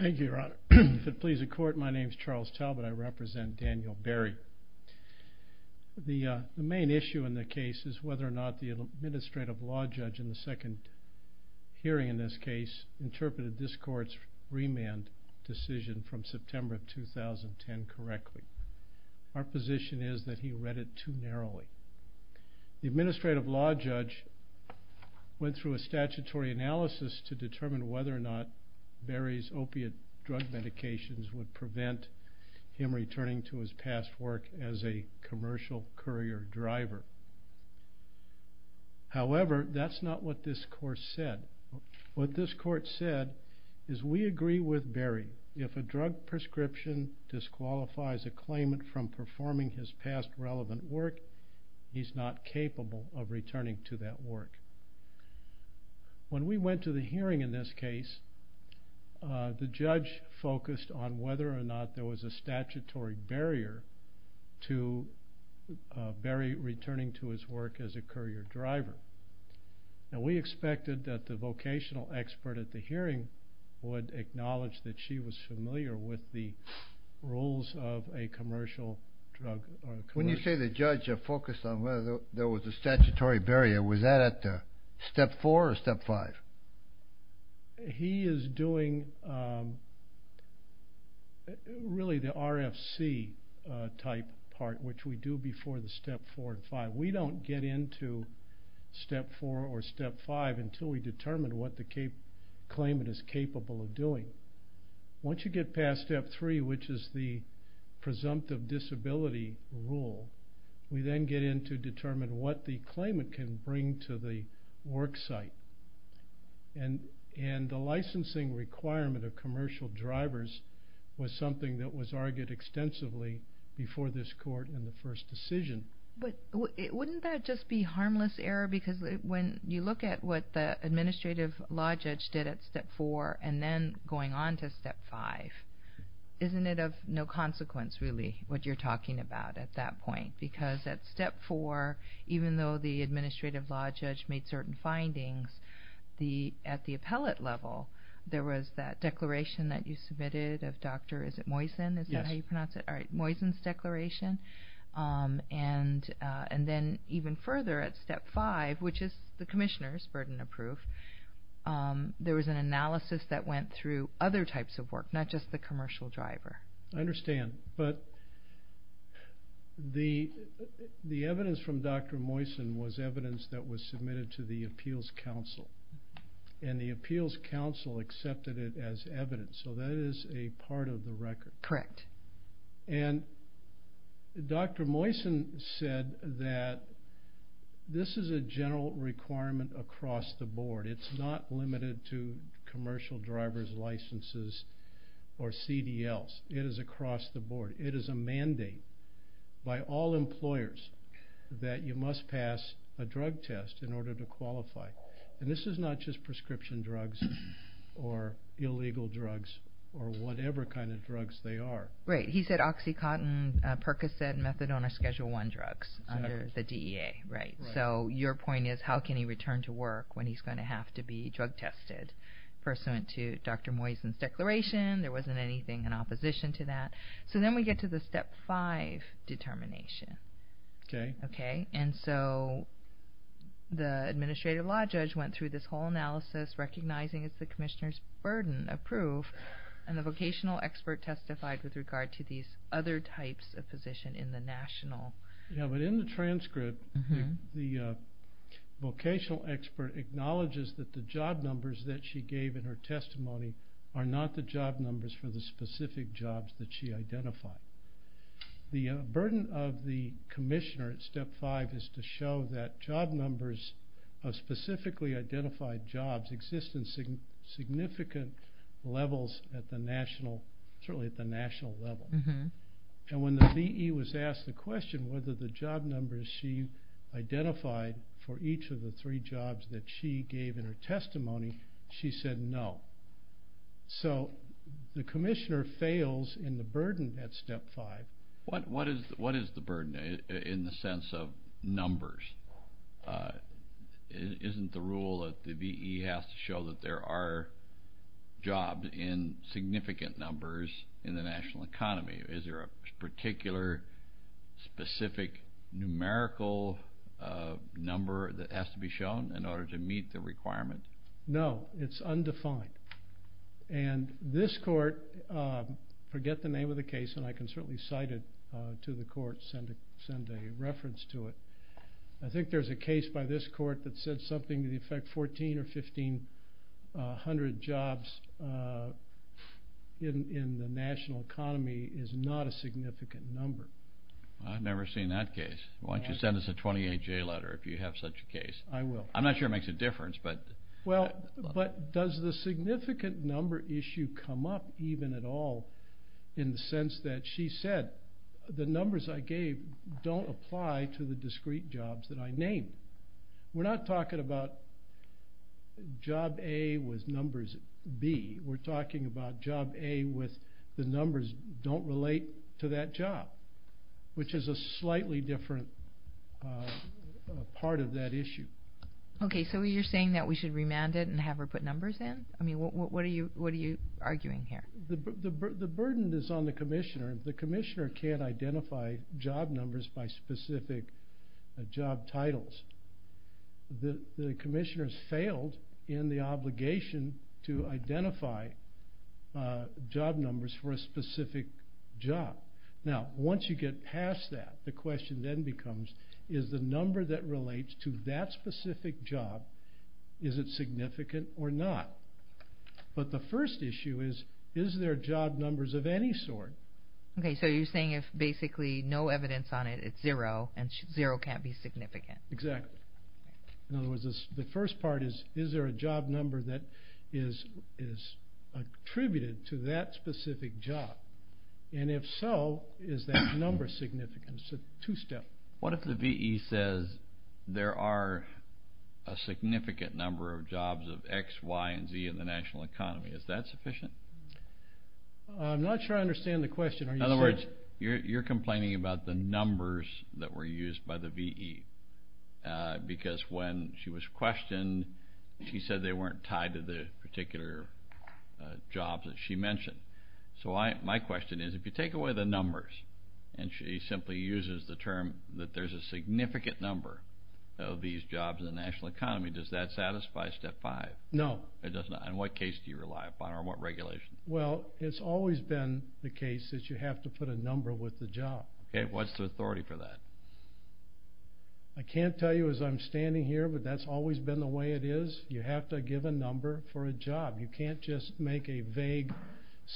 Thank you, Your Honor. If it please the Court, my name is Charles Talbot. I represent Daniel Berry. The main issue in the case is whether or not the Administrative Law Judge in the second hearing in this case interpreted this Court's remand decision from September 2010 correctly. Our position is that he read it too narrowly. The Administrative Law Judge went through a statutory analysis to determine whether or not the remand decision was correct. Whether or not Berry's opiate drug medications would prevent him returning to his past work as a commercial courier driver. However, that's not what this Court said. What this Court said is we agree with Berry. If a drug prescription disqualifies a claimant from performing his past relevant work, he's not capable of returning to that work. When we went to the hearing in this case, the judge focused on whether or not there was a statutory barrier to Berry returning to his work as a courier driver. We expected that the vocational expert at the hearing would acknowledge that she was familiar with the rules of a commercial drug. When you say the judge focused on whether there was a statutory barrier, was that at Step 4 or Step 5? He is doing the RFC type part, which we do before Step 4 and Step 5. We don't get into Step 4 or Step 5 until we determine what the claimant is capable of doing. Once you get past Step 3, which is the presumptive disability rule, we then get into determining what the claimant can bring to the work site. The licensing requirement of commercial drivers was something that was argued extensively before this Court in the first decision. But wouldn't that just be harmless error? Because when you look at what the administrative law judge did at Step 4 and then going on to Step 5, isn't it of no consequence, really, what you're talking about at that point? Because at Step 4, even though the administrative law judge made certain findings, at the appellate level, there was that declaration that you submitted of Dr. Moysen's declaration, and then even further at Step 5, which is the commissioner's burden of proof, there was an analysis that went through other types of work, not just the commercial driver. I understand, but the evidence from Dr. Moysen was evidence that was submitted to the Appeals Council, and the Appeals Council accepted it as evidence, so that is a part of the record. Correct. And Dr. Moysen said that this is a general requirement across the board. It's not limited to commercial driver's licenses or CDLs. It is across the board. It is a mandate by all employers that you must pass a drug test in order to qualify. And this is not just prescription drugs or illegal drugs or whatever kind of drugs they are. Right. He said Oxycontin, Percocet, and Methadone are Schedule 1 drugs under the DEA. So your point is, how can he return to work when he's going to have to be drug tested pursuant to Dr. Moysen's declaration? There wasn't anything in opposition to that. So then we get to the Step 5 determination. Okay. Okay, and so the Administrative Law Judge went through this whole analysis recognizing it's the commissioner's burden of proof, and the vocational expert testified with regard to these other types of position in the national... The burden of the commissioner at Step 5 is to show that job numbers of specifically identified jobs exist in significant levels at the national, certainly at the national level. And when the DEA was asked the question whether the job numbers she identified for each of the three jobs that she gave in her testimony, she said no. So the commissioner fails in the burden at Step 5. What is the burden in the sense of numbers? Isn't the rule that the V.E. has to show that there are jobs in significant numbers in the national economy? Is there a particular specific numerical number that has to be shown in order to meet the requirement? No, it's undefined. And this court, forget the name of the case, and I can certainly cite it to the court, send a reference to it. I think there's a case by this court that said something to the effect 14 or 1,500 jobs in the national economy is not a significant number. I've never seen that case. Why don't you send us a 28-J letter if you have such a case? I will. I'm not sure it makes a difference. But does the significant number issue come up even at all in the sense that she said the numbers I gave don't apply to the discrete jobs that I named? We're not talking about job A with numbers B. We're talking about job A with the numbers don't relate to that job, which is a slightly different part of that issue. Okay, so you're saying that we should remand it and have her put numbers in? I mean, what are you arguing here? The burden is on the commissioner. The commissioner can't identify job numbers by specific job titles. The commissioner has failed in the obligation to identify job numbers for a specific job. Now, once you get past that, the question then becomes, is the number that relates to that specific job, is it significant or not? But the first issue is, is there job numbers of any sort? Okay, so you're saying if basically no evidence on it, it's zero and zero can't be significant. Exactly. In other words, the first part is, is there a job number that is attributed to that specific job? And if so, is that number significant? It's a two-step. What if the V.E. says there are a significant number of jobs of X, Y, and Z in the national economy? Is that sufficient? I'm not sure I understand the question. In other words, you're complaining about the numbers that were used by the V.E. because when she was questioned, she said they weren't tied to the particular jobs that she mentioned. So my question is, if you take away the numbers, and she simply uses the term that there's a significant number of these jobs in the national economy, does that satisfy Step 5? No. And what case do you rely upon or what regulation? Well, it's always been the case that you have to put a number with the job. Okay. What's the authority for that? I can't tell you as I'm standing here, but that's always been the way it is. You have to give a number for a job. You can't just make a vague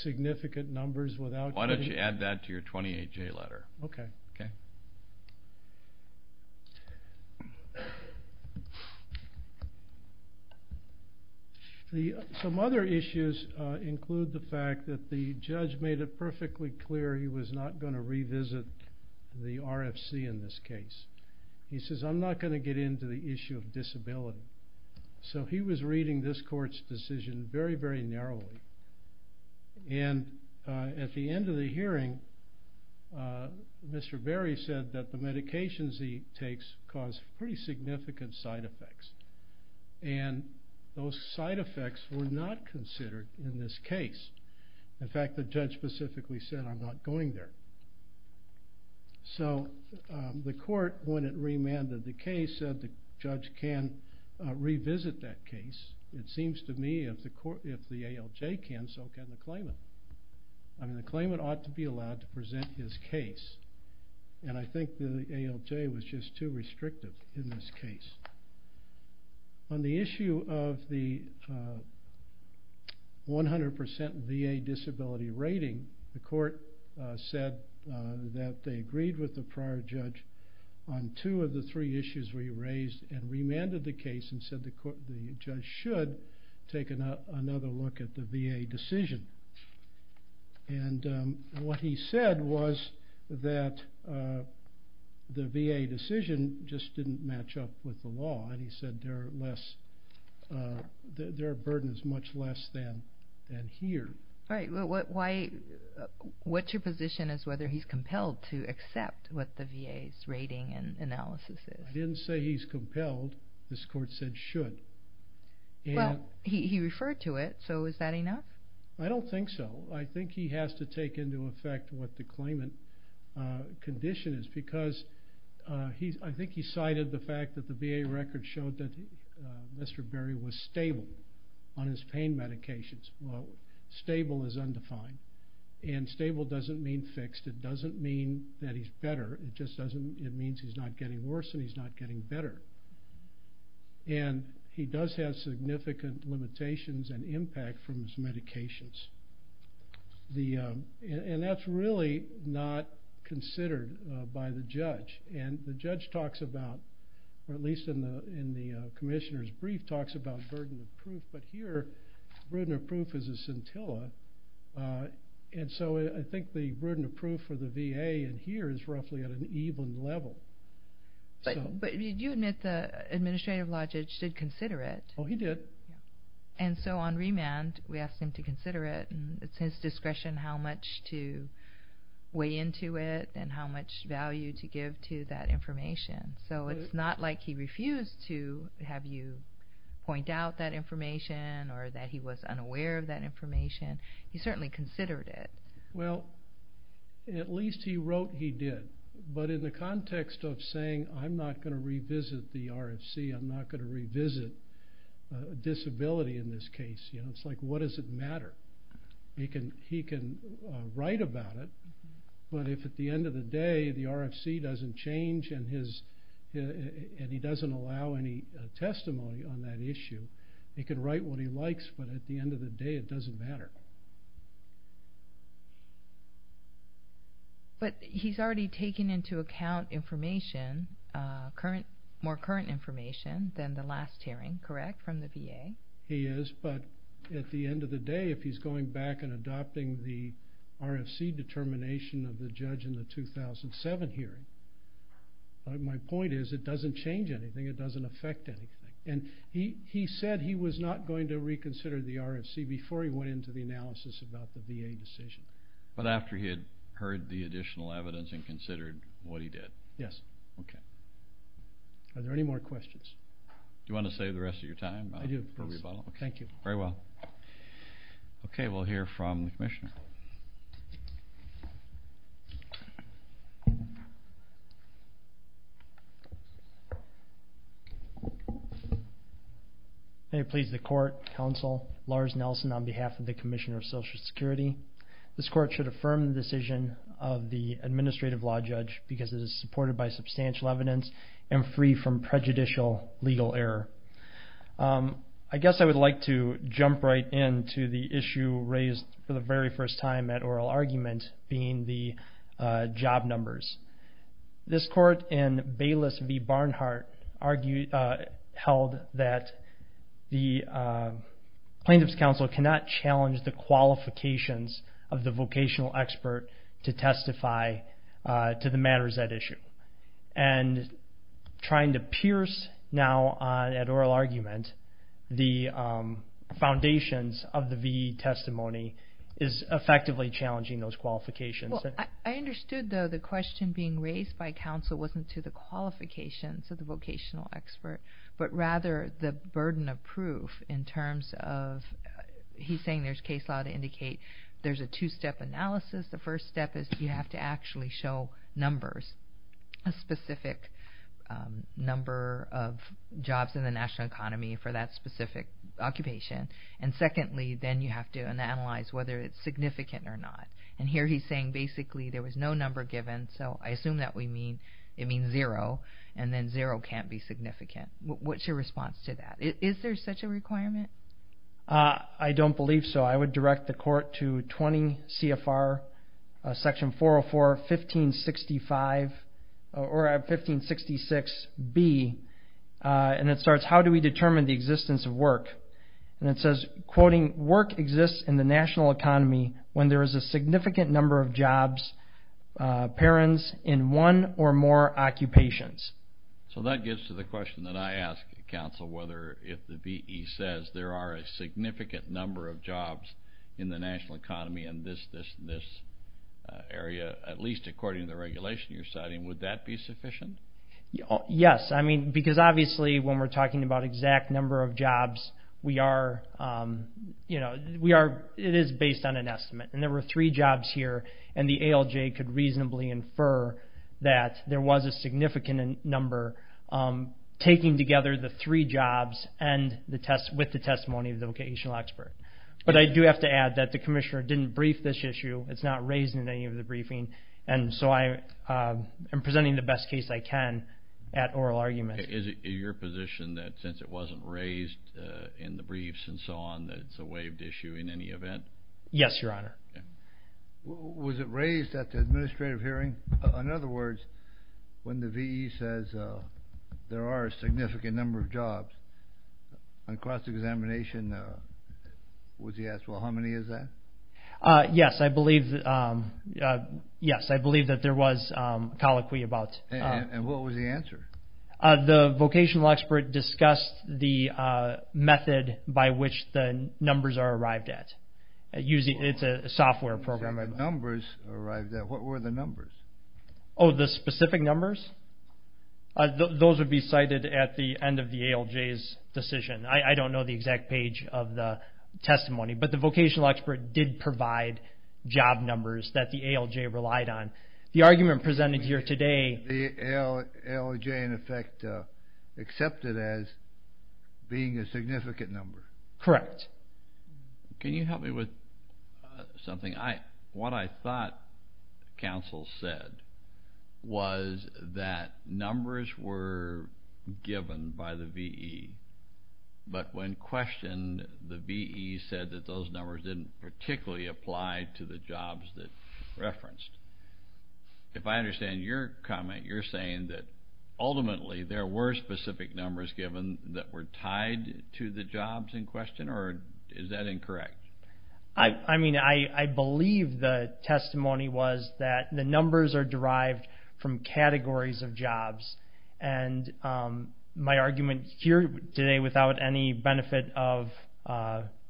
significant numbers without getting it. Why don't you add that to your 28-J letter? Okay. Okay. Some other issues include the fact that the judge made it perfectly clear he was not going to revisit the RFC in this case. He says, I'm not going to get into the issue of disability. So he was reading this court's decision very, very narrowly. And at the end of the hearing, Mr. Berry said that the medications he takes cause pretty significant side effects, and those side effects were not considered in this case. In fact, the judge specifically said, I'm not going there. So the court, when it remanded the case, said the judge can revisit that case. It seems to me if the ALJ can, so can the claimant. I mean, the claimant ought to be allowed to present his case, and I think the ALJ was just too restrictive in this case. On the issue of the 100% VA disability rating, the court said that they agreed with the prior judge on two of the three issues we raised and remanded the case and said the judge should take another look at the VA decision. And what he said was that the VA decision just didn't match up with the law, and he said there are burdens much less than here. All right. What's your position as to whether he's compelled to accept what the VA's rating and analysis is? I didn't say he's compelled. This court said should. Well, he referred to it, so is that enough? I don't think so. I think he has to take into effect what the claimant condition is because I think he cited the fact that the VA record showed that Mr. Berry was stable on his pain medications. Well, stable is undefined, and stable doesn't mean fixed. It doesn't mean that he's better. It just means he's not getting worse and he's not getting better. And he does have significant limitations and impact from his medications, and that's really not considered by the judge. And the judge talks about, or at least in the commissioner's brief, talks about burden of proof, but here burden of proof is a scintilla, and so I think the burden of proof for the VA in here is roughly at an even level. But you admit the administrative lodge did consider it. Oh, he did. And so on remand we asked him to consider it, and it's his discretion how much to weigh into it and how much value to give to that information. So it's not like he refused to have you point out that information or that he was unaware of that information. He certainly considered it. Well, at least he wrote he did, but in the context of saying I'm not going to revisit the RFC, I'm not going to revisit disability in this case, it's like what does it matter? He can write about it, but if at the end of the day the RFC doesn't change and he doesn't allow any testimony on that issue, he can write what he likes, but at the end of the day it doesn't matter. But he's already taken into account information, more current information than the last hearing, correct, from the VA? He is, but at the end of the day, if he's going back and adopting the RFC determination of the judge in the 2007 hearing, my point is it doesn't change anything, it doesn't affect anything. And he said he was not going to reconsider the RFC before he went into the analysis about the VA decision. But after he had heard the additional evidence and considered what he did? Yes. Okay. Are there any more questions? Do you want to save the rest of your time for rebuttal? Thank you. Very well. Okay, we'll hear from the commissioner. May it please the court, counsel, Lars Nelson on behalf of the Commissioner of Social Security. This court should affirm the decision of the administrative law judge because it is supported by substantial evidence and free from prejudicial legal error. I guess I would like to jump right into the issue raised for the very first time at oral argument being the job numbers. This court in Bayless v. Barnhart held that the Plaintiff's Counsel cannot challenge the qualifications of the vocational expert to testify to the matters at issue. And trying to pierce now at oral argument the foundations of the VE testimony is effectively challenging those qualifications. Well, I understood, though, the question being raised by counsel wasn't to the qualifications of the vocational expert, but rather the burden of proof in terms of he's saying there's case law to indicate there's a two-step analysis. The first step is you have to actually show numbers, a specific number of jobs in the national economy for that specific occupation. And secondly, then you have to analyze whether it's significant or not. And here he's saying basically there was no number given, so I assume that we mean it means zero, and then zero can't be significant. What's your response to that? Is there such a requirement? I don't believe so. I would direct the court to 20 CFR section 404, 1565, or 1566B, and it starts how do we determine the existence of work. And it says, quoting, work exists in the national economy when there is a significant number of jobs, parents in one or more occupations. So that gets to the question that I ask counsel whether if the VE says there are a significant number of jobs in the national economy in this area, at least according to the regulation you're citing, would that be sufficient? Yes, because obviously when we're talking about exact number of jobs, it is based on an estimate. And there were three jobs here, and the ALJ could reasonably infer that there was a significant number. Taking together the three jobs with the testimony of the vocational expert. But I do have to add that the commissioner didn't brief this issue. It's not raised in any of the briefing, and so I am presenting the best case I can at oral argument. Is it your position that since it wasn't raised in the briefs and so on, that it's a waived issue in any event? Yes, Your Honor. Was it raised at the administrative hearing? In other words, when the VE says there are a significant number of jobs, on cross-examination, was he asked, well, how many is that? Yes, I believe that there was colloquy about. And what was the answer? The vocational expert discussed the method by which the numbers are arrived at. It's a software program. What were the numbers? Oh, the specific numbers? Those would be cited at the end of the ALJ's decision. I don't know the exact page of the testimony, but the vocational expert did provide job numbers that the ALJ relied on. The argument presented here today. The ALJ, in effect, accepted as being a significant number. Correct. Can you help me with something? What I thought counsel said was that numbers were given by the VE, but when questioned, the VE said that those numbers didn't particularly apply to the jobs that referenced. If I understand your comment, you're saying that ultimately there were specific numbers given that were tied to the jobs in question, or is that incorrect? I mean, I believe the testimony was that the numbers are derived from categories of jobs, and my argument here today, without any benefit of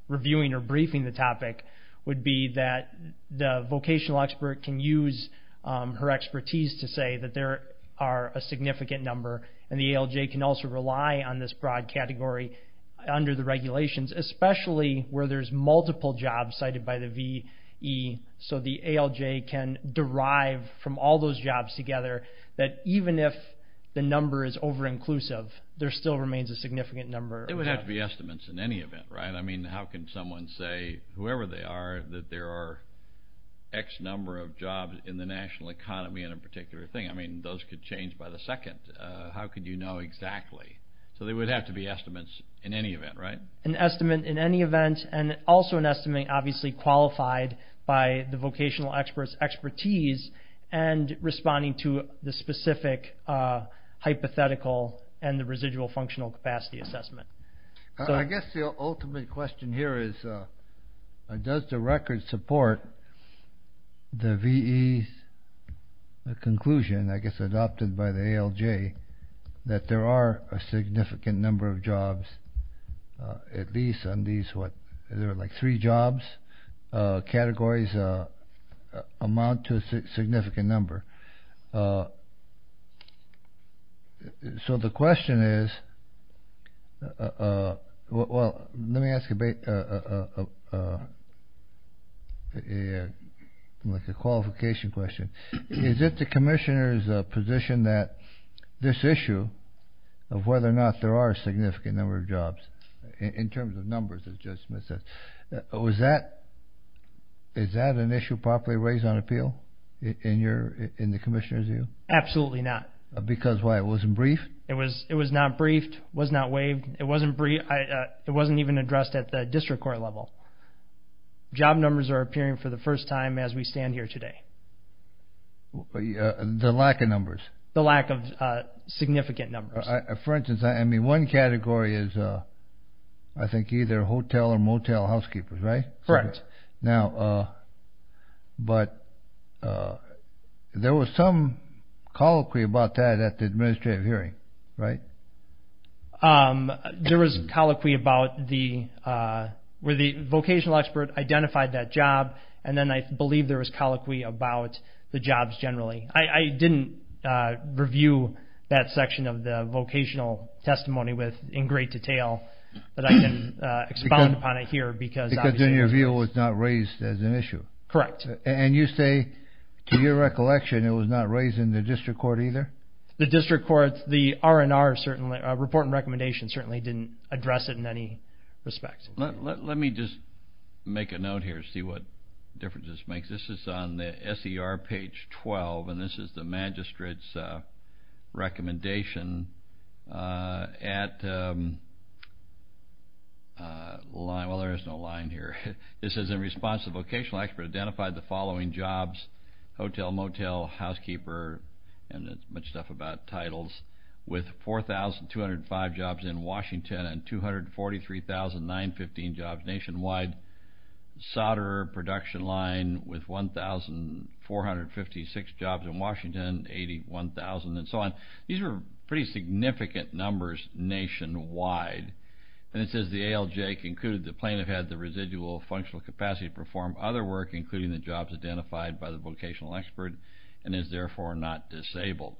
reviewing or briefing the topic, would be that the vocational expert can use her expertise to say that there are a significant number, and the ALJ can also rely on this broad category under the regulations, especially where there's multiple jobs cited by the VE, so the ALJ can derive from all those jobs together that even if the number is over-inclusive, there still remains a significant number. It would have to be estimates in any event, right? I mean, how can someone say, whoever they are, that there are X number of jobs in the national economy in a particular thing? I mean, those could change by the second. How could you know exactly? So they would have to be estimates in any event, right? An estimate in any event, and also an estimate obviously qualified by the vocational expert's expertise and responding to the specific hypothetical and the residual functional capacity assessment. I guess the ultimate question here is does the record support the VE's conclusion, I guess adopted by the ALJ, that there are a significant number of jobs, at least on these what? There are like three jobs, categories amount to a significant number. So the question is, well, let me ask a qualification question. Is it the commissioner's position that this issue of whether or not there are a significant number of jobs in terms of numbers, as Judge Smith said, is that an issue properly raised on appeal in the commissioner's view? Absolutely not. Because why? It wasn't briefed? It was not briefed. It was not waived. It wasn't even addressed at the district court level. Job numbers are appearing for the first time as we stand here today. The lack of numbers? The lack of significant numbers. For instance, I mean, one category is I think either hotel or motel housekeepers, right? Correct. Now, but there was some colloquy about that at the administrative hearing, right? There was colloquy about where the vocational expert identified that job, and then I believe there was colloquy about the jobs generally. I didn't review that section of the vocational testimony in great detail, but I can expound upon it here. Because in your view it was not raised as an issue? Correct. And you say to your recollection it was not raised in the district court either? The district court, the R&R certainly, report and recommendation, certainly didn't address it in any respect. Let me just make a note here to see what difference this makes. This is on the SER page 12, and this is the magistrate's recommendation at line. Well, there is no line here. It says in response, the vocational expert identified the following jobs, hotel, motel, housekeeper, and it's much stuff about titles, with 4,205 jobs in Washington and 243,915 jobs nationwide, solder, production line with 1,456 jobs in Washington, 81,000, and so on. These are pretty significant numbers nationwide. And it says the ALJ concluded the plaintiff had the residual functional capacity to perform other work, including the jobs identified by the vocational expert, and is therefore not disabled.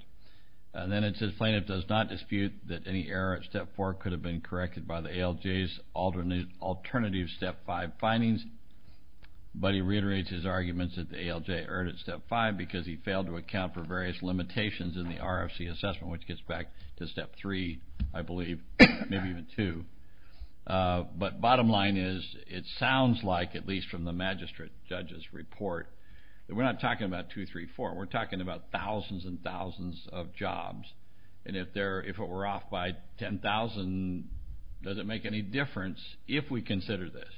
And then it says plaintiff does not dispute that any error at Step 4 could have been corrected by the ALJ's alternative Step 5 findings. But he reiterates his arguments that the ALJ erred at Step 5 because he failed to account for various limitations in the RFC assessment, which gets back to Step 3, I believe, maybe even 2. But bottom line is it sounds like, at least from the magistrate judge's report, that we're not talking about 2, 3, 4. We're talking about thousands and thousands of jobs. And if it were off by 10,000, does it make any difference if we consider this?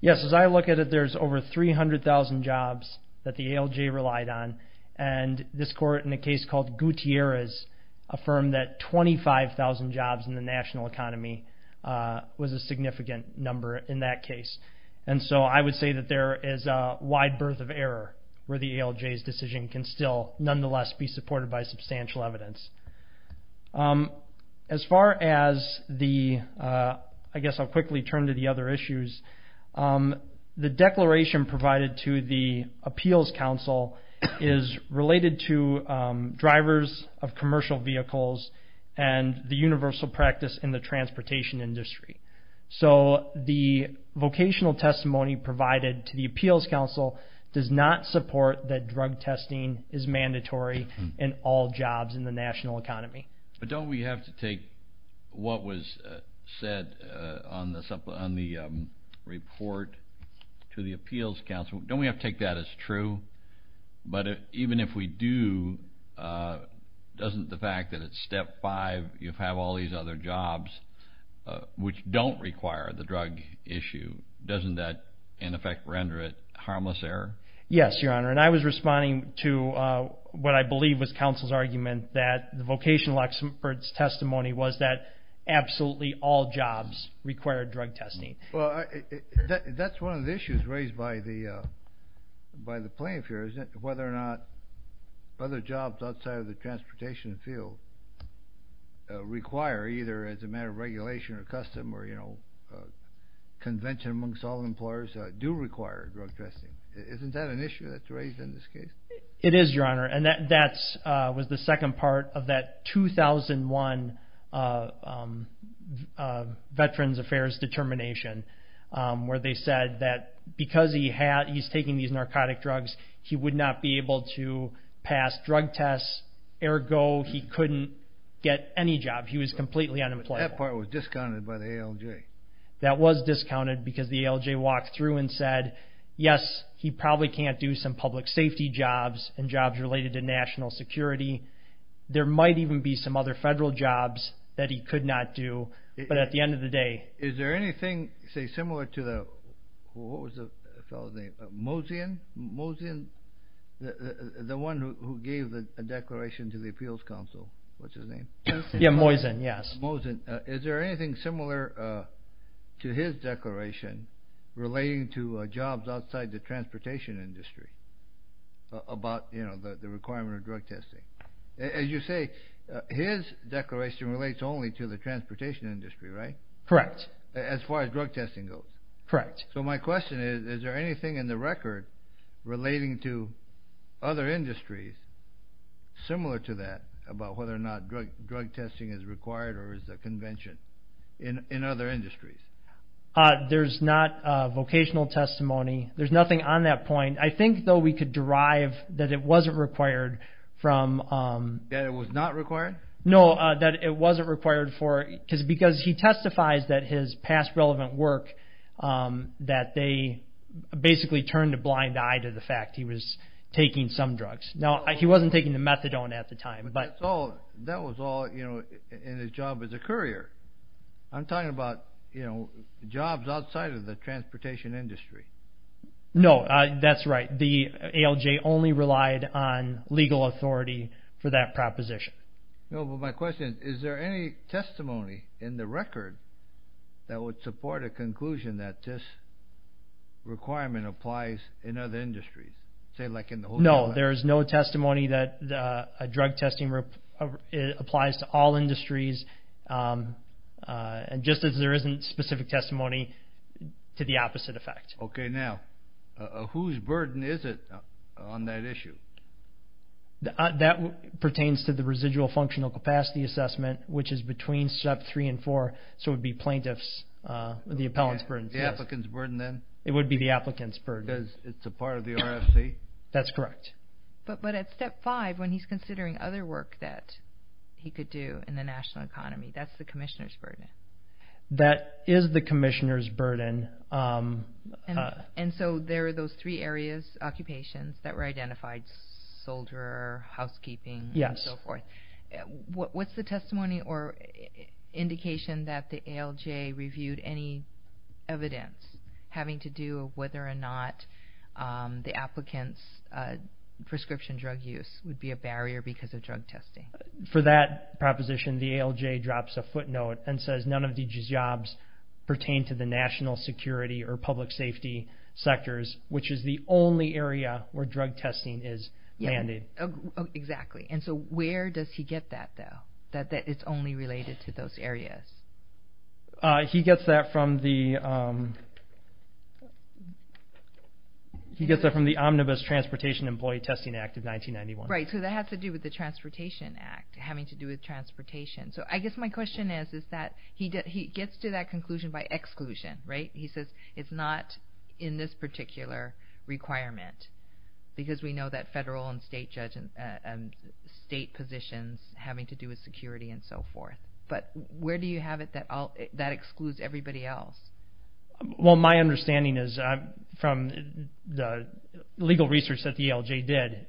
Yes. As I look at it, there's over 300,000 jobs that the ALJ relied on, and this court, in a case called Gutierrez, affirmed that 25,000 jobs in the national economy was a significant number in that case. And so I would say that there is a wide berth of error where the ALJ's decision can still, nonetheless, be supported by substantial evidence. As far as the, I guess I'll quickly turn to the other issues, the declaration provided to the Appeals Council is related to drivers of commercial vehicles and the universal practice in the transportation industry. So the vocational testimony provided to the Appeals Council does not support that drug testing is mandatory in all jobs in the national economy. But don't we have to take what was said on the report to the Appeals Council, don't we have to take that as true? But even if we do, doesn't the fact that it's Step 5, you have all these other jobs, which don't require the drug issue, doesn't that, in effect, render it harmless error? Yes, Your Honor. And I was responding to what I believe was counsel's argument that the vocational expert's testimony was that absolutely all jobs require drug testing. Well, that's one of the issues raised by the plaintiff here, is whether or not other jobs outside of the transportation field require, either as a matter of regulation or custom or convention amongst all employers, do require drug testing. Isn't that an issue that's raised in this case? It is, Your Honor, and that was the second part of that 2001 Veterans Affairs determination where they said that because he's taking these narcotic drugs, he would not be able to pass drug tests, ergo he couldn't get any job. He was completely unemployable. That part was discounted by the ALJ. Okay. That was discounted because the ALJ walked through and said, yes, he probably can't do some public safety jobs and jobs related to national security. There might even be some other federal jobs that he could not do, but at the end of the day. Is there anything, say, similar to the, what was the fellow's name, Mosian? Mosian, the one who gave the declaration to the Appeals Council, what's his name? Yeah, Mosian, yes. Mosian, is there anything similar to his declaration relating to jobs outside the transportation industry about the requirement of drug testing? As you say, his declaration relates only to the transportation industry, right? Correct. As far as drug testing goes? Correct. So my question is, is there anything in the record relating to other industries similar to that about whether or not drug testing is required or is a convention in other industries? There's not a vocational testimony. There's nothing on that point. I think, though, we could derive that it wasn't required from... That it was not required? No, that it wasn't required for, because he testifies that his past relevant work, that they basically turned a blind eye to the fact he was taking some drugs. Now, he wasn't taking the methadone at the time. But that was all in his job as a courier. I'm talking about jobs outside of the transportation industry. No, that's right. The ALJ only relied on legal authority for that proposition. No, but my question is, is there any testimony in the record that would support a conclusion that this requirement applies in other industries, say, like in the... No, there is no testimony that a drug testing applies to all industries, just as there isn't specific testimony to the opposite effect. Okay. Now, whose burden is it on that issue? That pertains to the residual functional capacity assessment, which is between Step 3 and 4, so it would be plaintiff's, the appellant's burden. The applicant's burden, then? It would be the applicant's burden. Because it's a part of the RFC? That's correct. But at Step 5, when he's considering other work that he could do in the national economy, that's the commissioner's burden. That is the commissioner's burden. And so there are those three areas, occupations, that were identified, soldier, housekeeping, and so forth. Yes. What's the testimony or indication that the ALJ reviewed any evidence having to do with whether or not the applicant's prescription drug use would be a barrier because of drug testing? For that proposition, the ALJ drops a footnote and says none of these jobs pertain to the national security or public safety sectors, which is the only area where drug testing is mandated. Exactly. And so where does he get that, though, that it's only related to those areas? He gets that from the Omnibus Transportation Employee Testing Act of 1991. Right. So that has to do with the Transportation Act having to do with transportation. So I guess my question is that he gets to that conclusion by exclusion, right? He says it's not in this particular requirement because we know that federal and state positions having to do with security and so forth. But where do you have it that excludes everybody else? Well, my understanding is from the legal research that the ALJ did,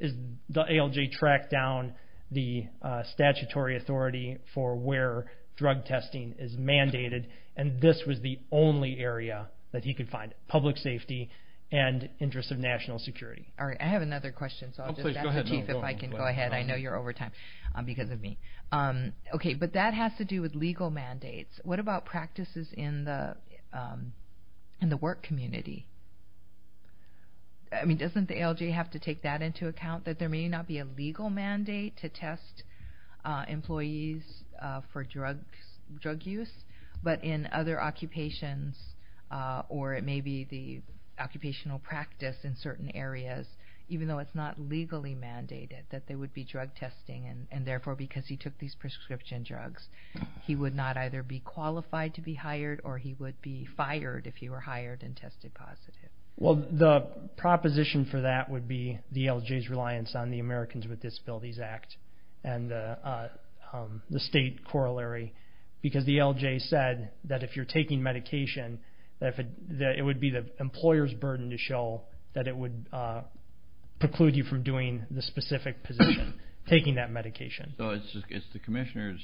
the ALJ tracked down the statutory authority for where drug testing is mandated, and this was the only area that he could find, public safety and interest of national security. All right. I have another question, so I'll just ask the Chief if I can go ahead. I know you're over time because of me. Okay, but that has to do with legal mandates. What about practices in the work community? I mean, doesn't the ALJ have to take that into account, that there may not be a legal mandate to test employees for drug use, but in other occupations or it may be the occupational practice in certain areas, even though it's not legally mandated, that there would be drug testing, and therefore because he took these prescription drugs, he would not either be qualified to be hired or he would be fired if he were hired and tested positive. Well, the proposition for that would be the ALJ's reliance on the Americans with Disabilities Act and the state corollary because the ALJ said that if you're taking medication, that it would be the employer's burden to show that it would preclude you from doing the specific position, taking that medication. So it's the commissioner's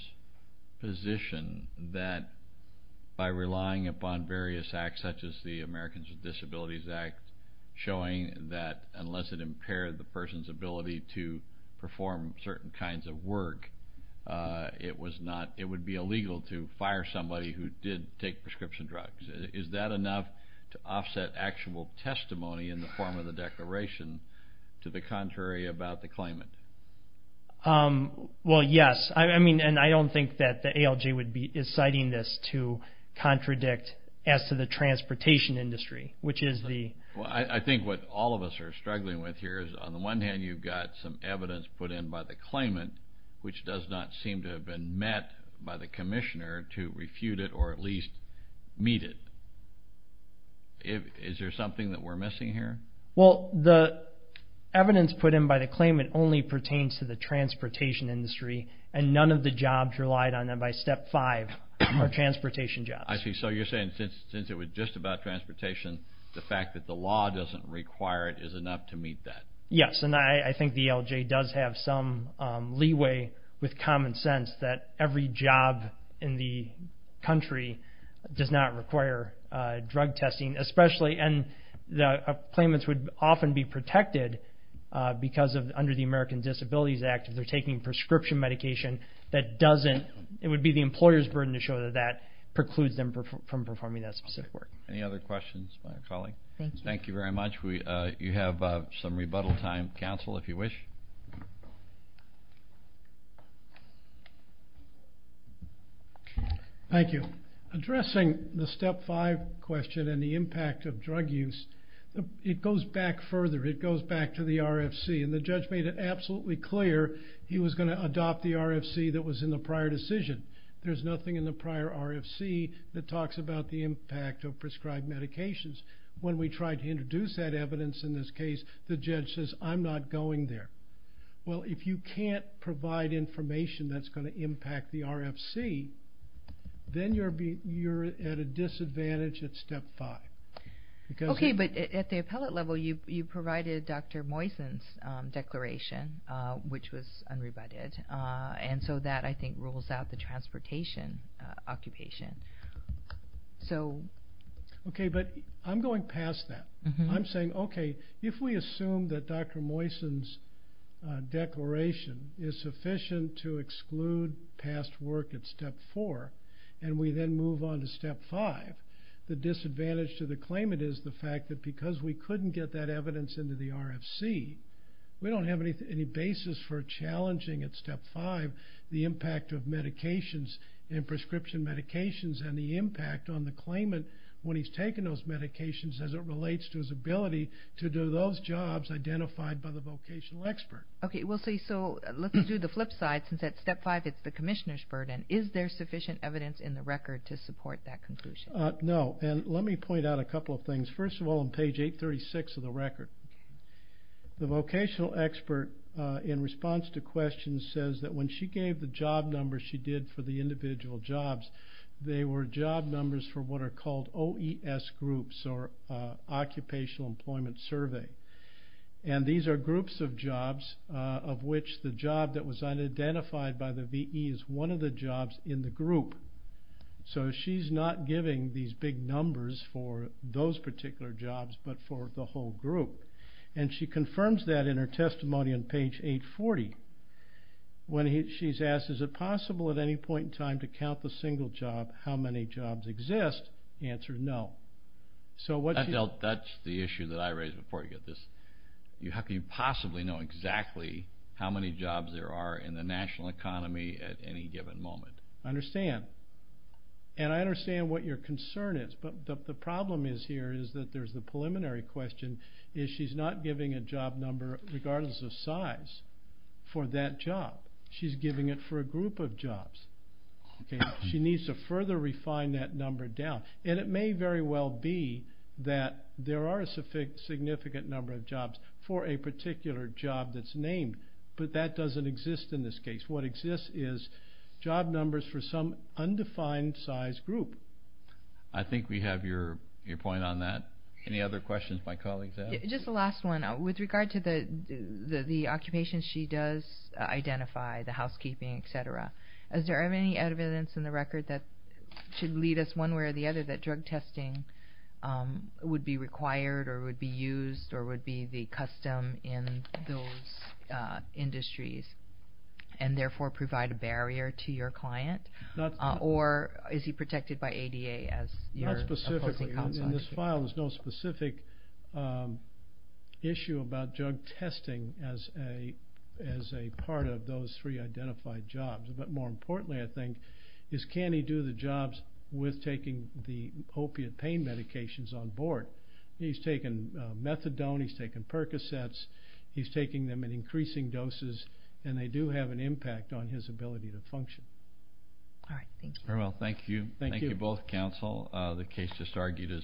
position that by relying upon various acts, such as the Americans with Disabilities Act, showing that unless it impaired the person's ability to perform certain kinds of work, it would be illegal to fire somebody who did take prescription drugs. Is that enough to offset actual testimony in the form of the declaration to the contrary about the claimant? Well, yes, and I don't think that the ALJ is citing this to contradict as to the transportation industry, which is the... Well, I think what all of us are struggling with here is on the one hand, you've got some evidence put in by the claimant, which does not seem to have been met by the commissioner to refute it or at least meet it. Is there something that we're missing here? Well, the evidence put in by the claimant only pertains to the transportation industry, and none of the jobs relied on them by Step 5 are transportation jobs. I see. So you're saying since it was just about transportation, the fact that the law doesn't require it is enough to meet that. Yes, and I think the ALJ does have some leeway with common sense that every job in the country does not require drug testing, and the claimants would often be protected under the American Disabilities Act if they're taking prescription medication. It would be the employer's burden to show that that precludes them from performing that specific work. Any other questions by a colleague? Thank you very much. You have some rebuttal time, counsel, if you wish. Thank you. Addressing the Step 5 question and the impact of drug use, it goes back further. It goes back to the RFC, and the judge made it absolutely clear he was going to adopt the RFC that was in the prior decision. There's nothing in the prior RFC that talks about the impact of prescribed medications. When we tried to introduce that evidence in this case, the judge says, I'm not going there. Well, if you can't provide information that's going to impact the RFC, then you're at a disadvantage at Step 5. Okay, but at the appellate level, you provided Dr. Moysen's declaration, which was unrebutted, and so that, I think, rules out the transportation occupation. Okay, but I'm going past that. I'm saying, okay, if we assume that Dr. Moysen's declaration is sufficient to exclude past work at Step 4, and we then move on to Step 5, the disadvantage to the claimant is the fact that because we couldn't get that evidence into the RFC, we don't have any basis for challenging at Step 5 the impact of medications and prescription medications and the impact on the claimant when he's taken those medications as it relates to his ability to do those jobs identified by the vocational expert. Okay, we'll see. So let's do the flip side since at Step 5 it's the commissioner's burden. Is there sufficient evidence in the record to support that conclusion? No, and let me point out a couple of things. First of all, on page 836 of the record, the vocational expert, in response to questions, says that when she gave the job numbers she did for the individual jobs, they were job numbers for what are called OES groups or Occupational Employment Survey. And these are groups of jobs of which the job that was unidentified by the V.E. is one of the jobs in the group. So she's not giving these big numbers for those particular jobs but for the whole group. And she confirms that in her testimony on page 840 when she's asked, is it possible at any point in time to count the single job how many jobs exist? The answer is no. That's the issue that I raised before you get this. How can you possibly know exactly how many jobs there are in the national economy at any given moment? I understand. And I understand what your concern is. But the problem is here is that there's the preliminary question, is she's not giving a job number regardless of size for that job. She's giving it for a group of jobs. She needs to further refine that number down. And it may very well be that there are a significant number of jobs for a particular job that's named, but that doesn't exist in this case. What exists is job numbers for some undefined size group. I think we have your point on that. Any other questions my colleagues have? Just the last one. With regard to the occupation, she does identify the housekeeping, et cetera. Is there any evidence in the record that should lead us one way or the other that drug testing would be required or would be used or would be the custom in those industries and therefore provide a barrier to your client? Or is he protected by ADA as your opposing counsel? Not specifically. In this file, there's no specific issue about drug testing as a part of those three identified jobs. But more importantly, I think, is can he do the jobs with taking the opiate pain medications on board? He's taken methadone. He's taken Percocets. He's taking them in increasing doses, and they do have an impact on his ability to function. All right. Thank you. Very well. Thank you. Thank you both, counsel. The case just argued is submitted.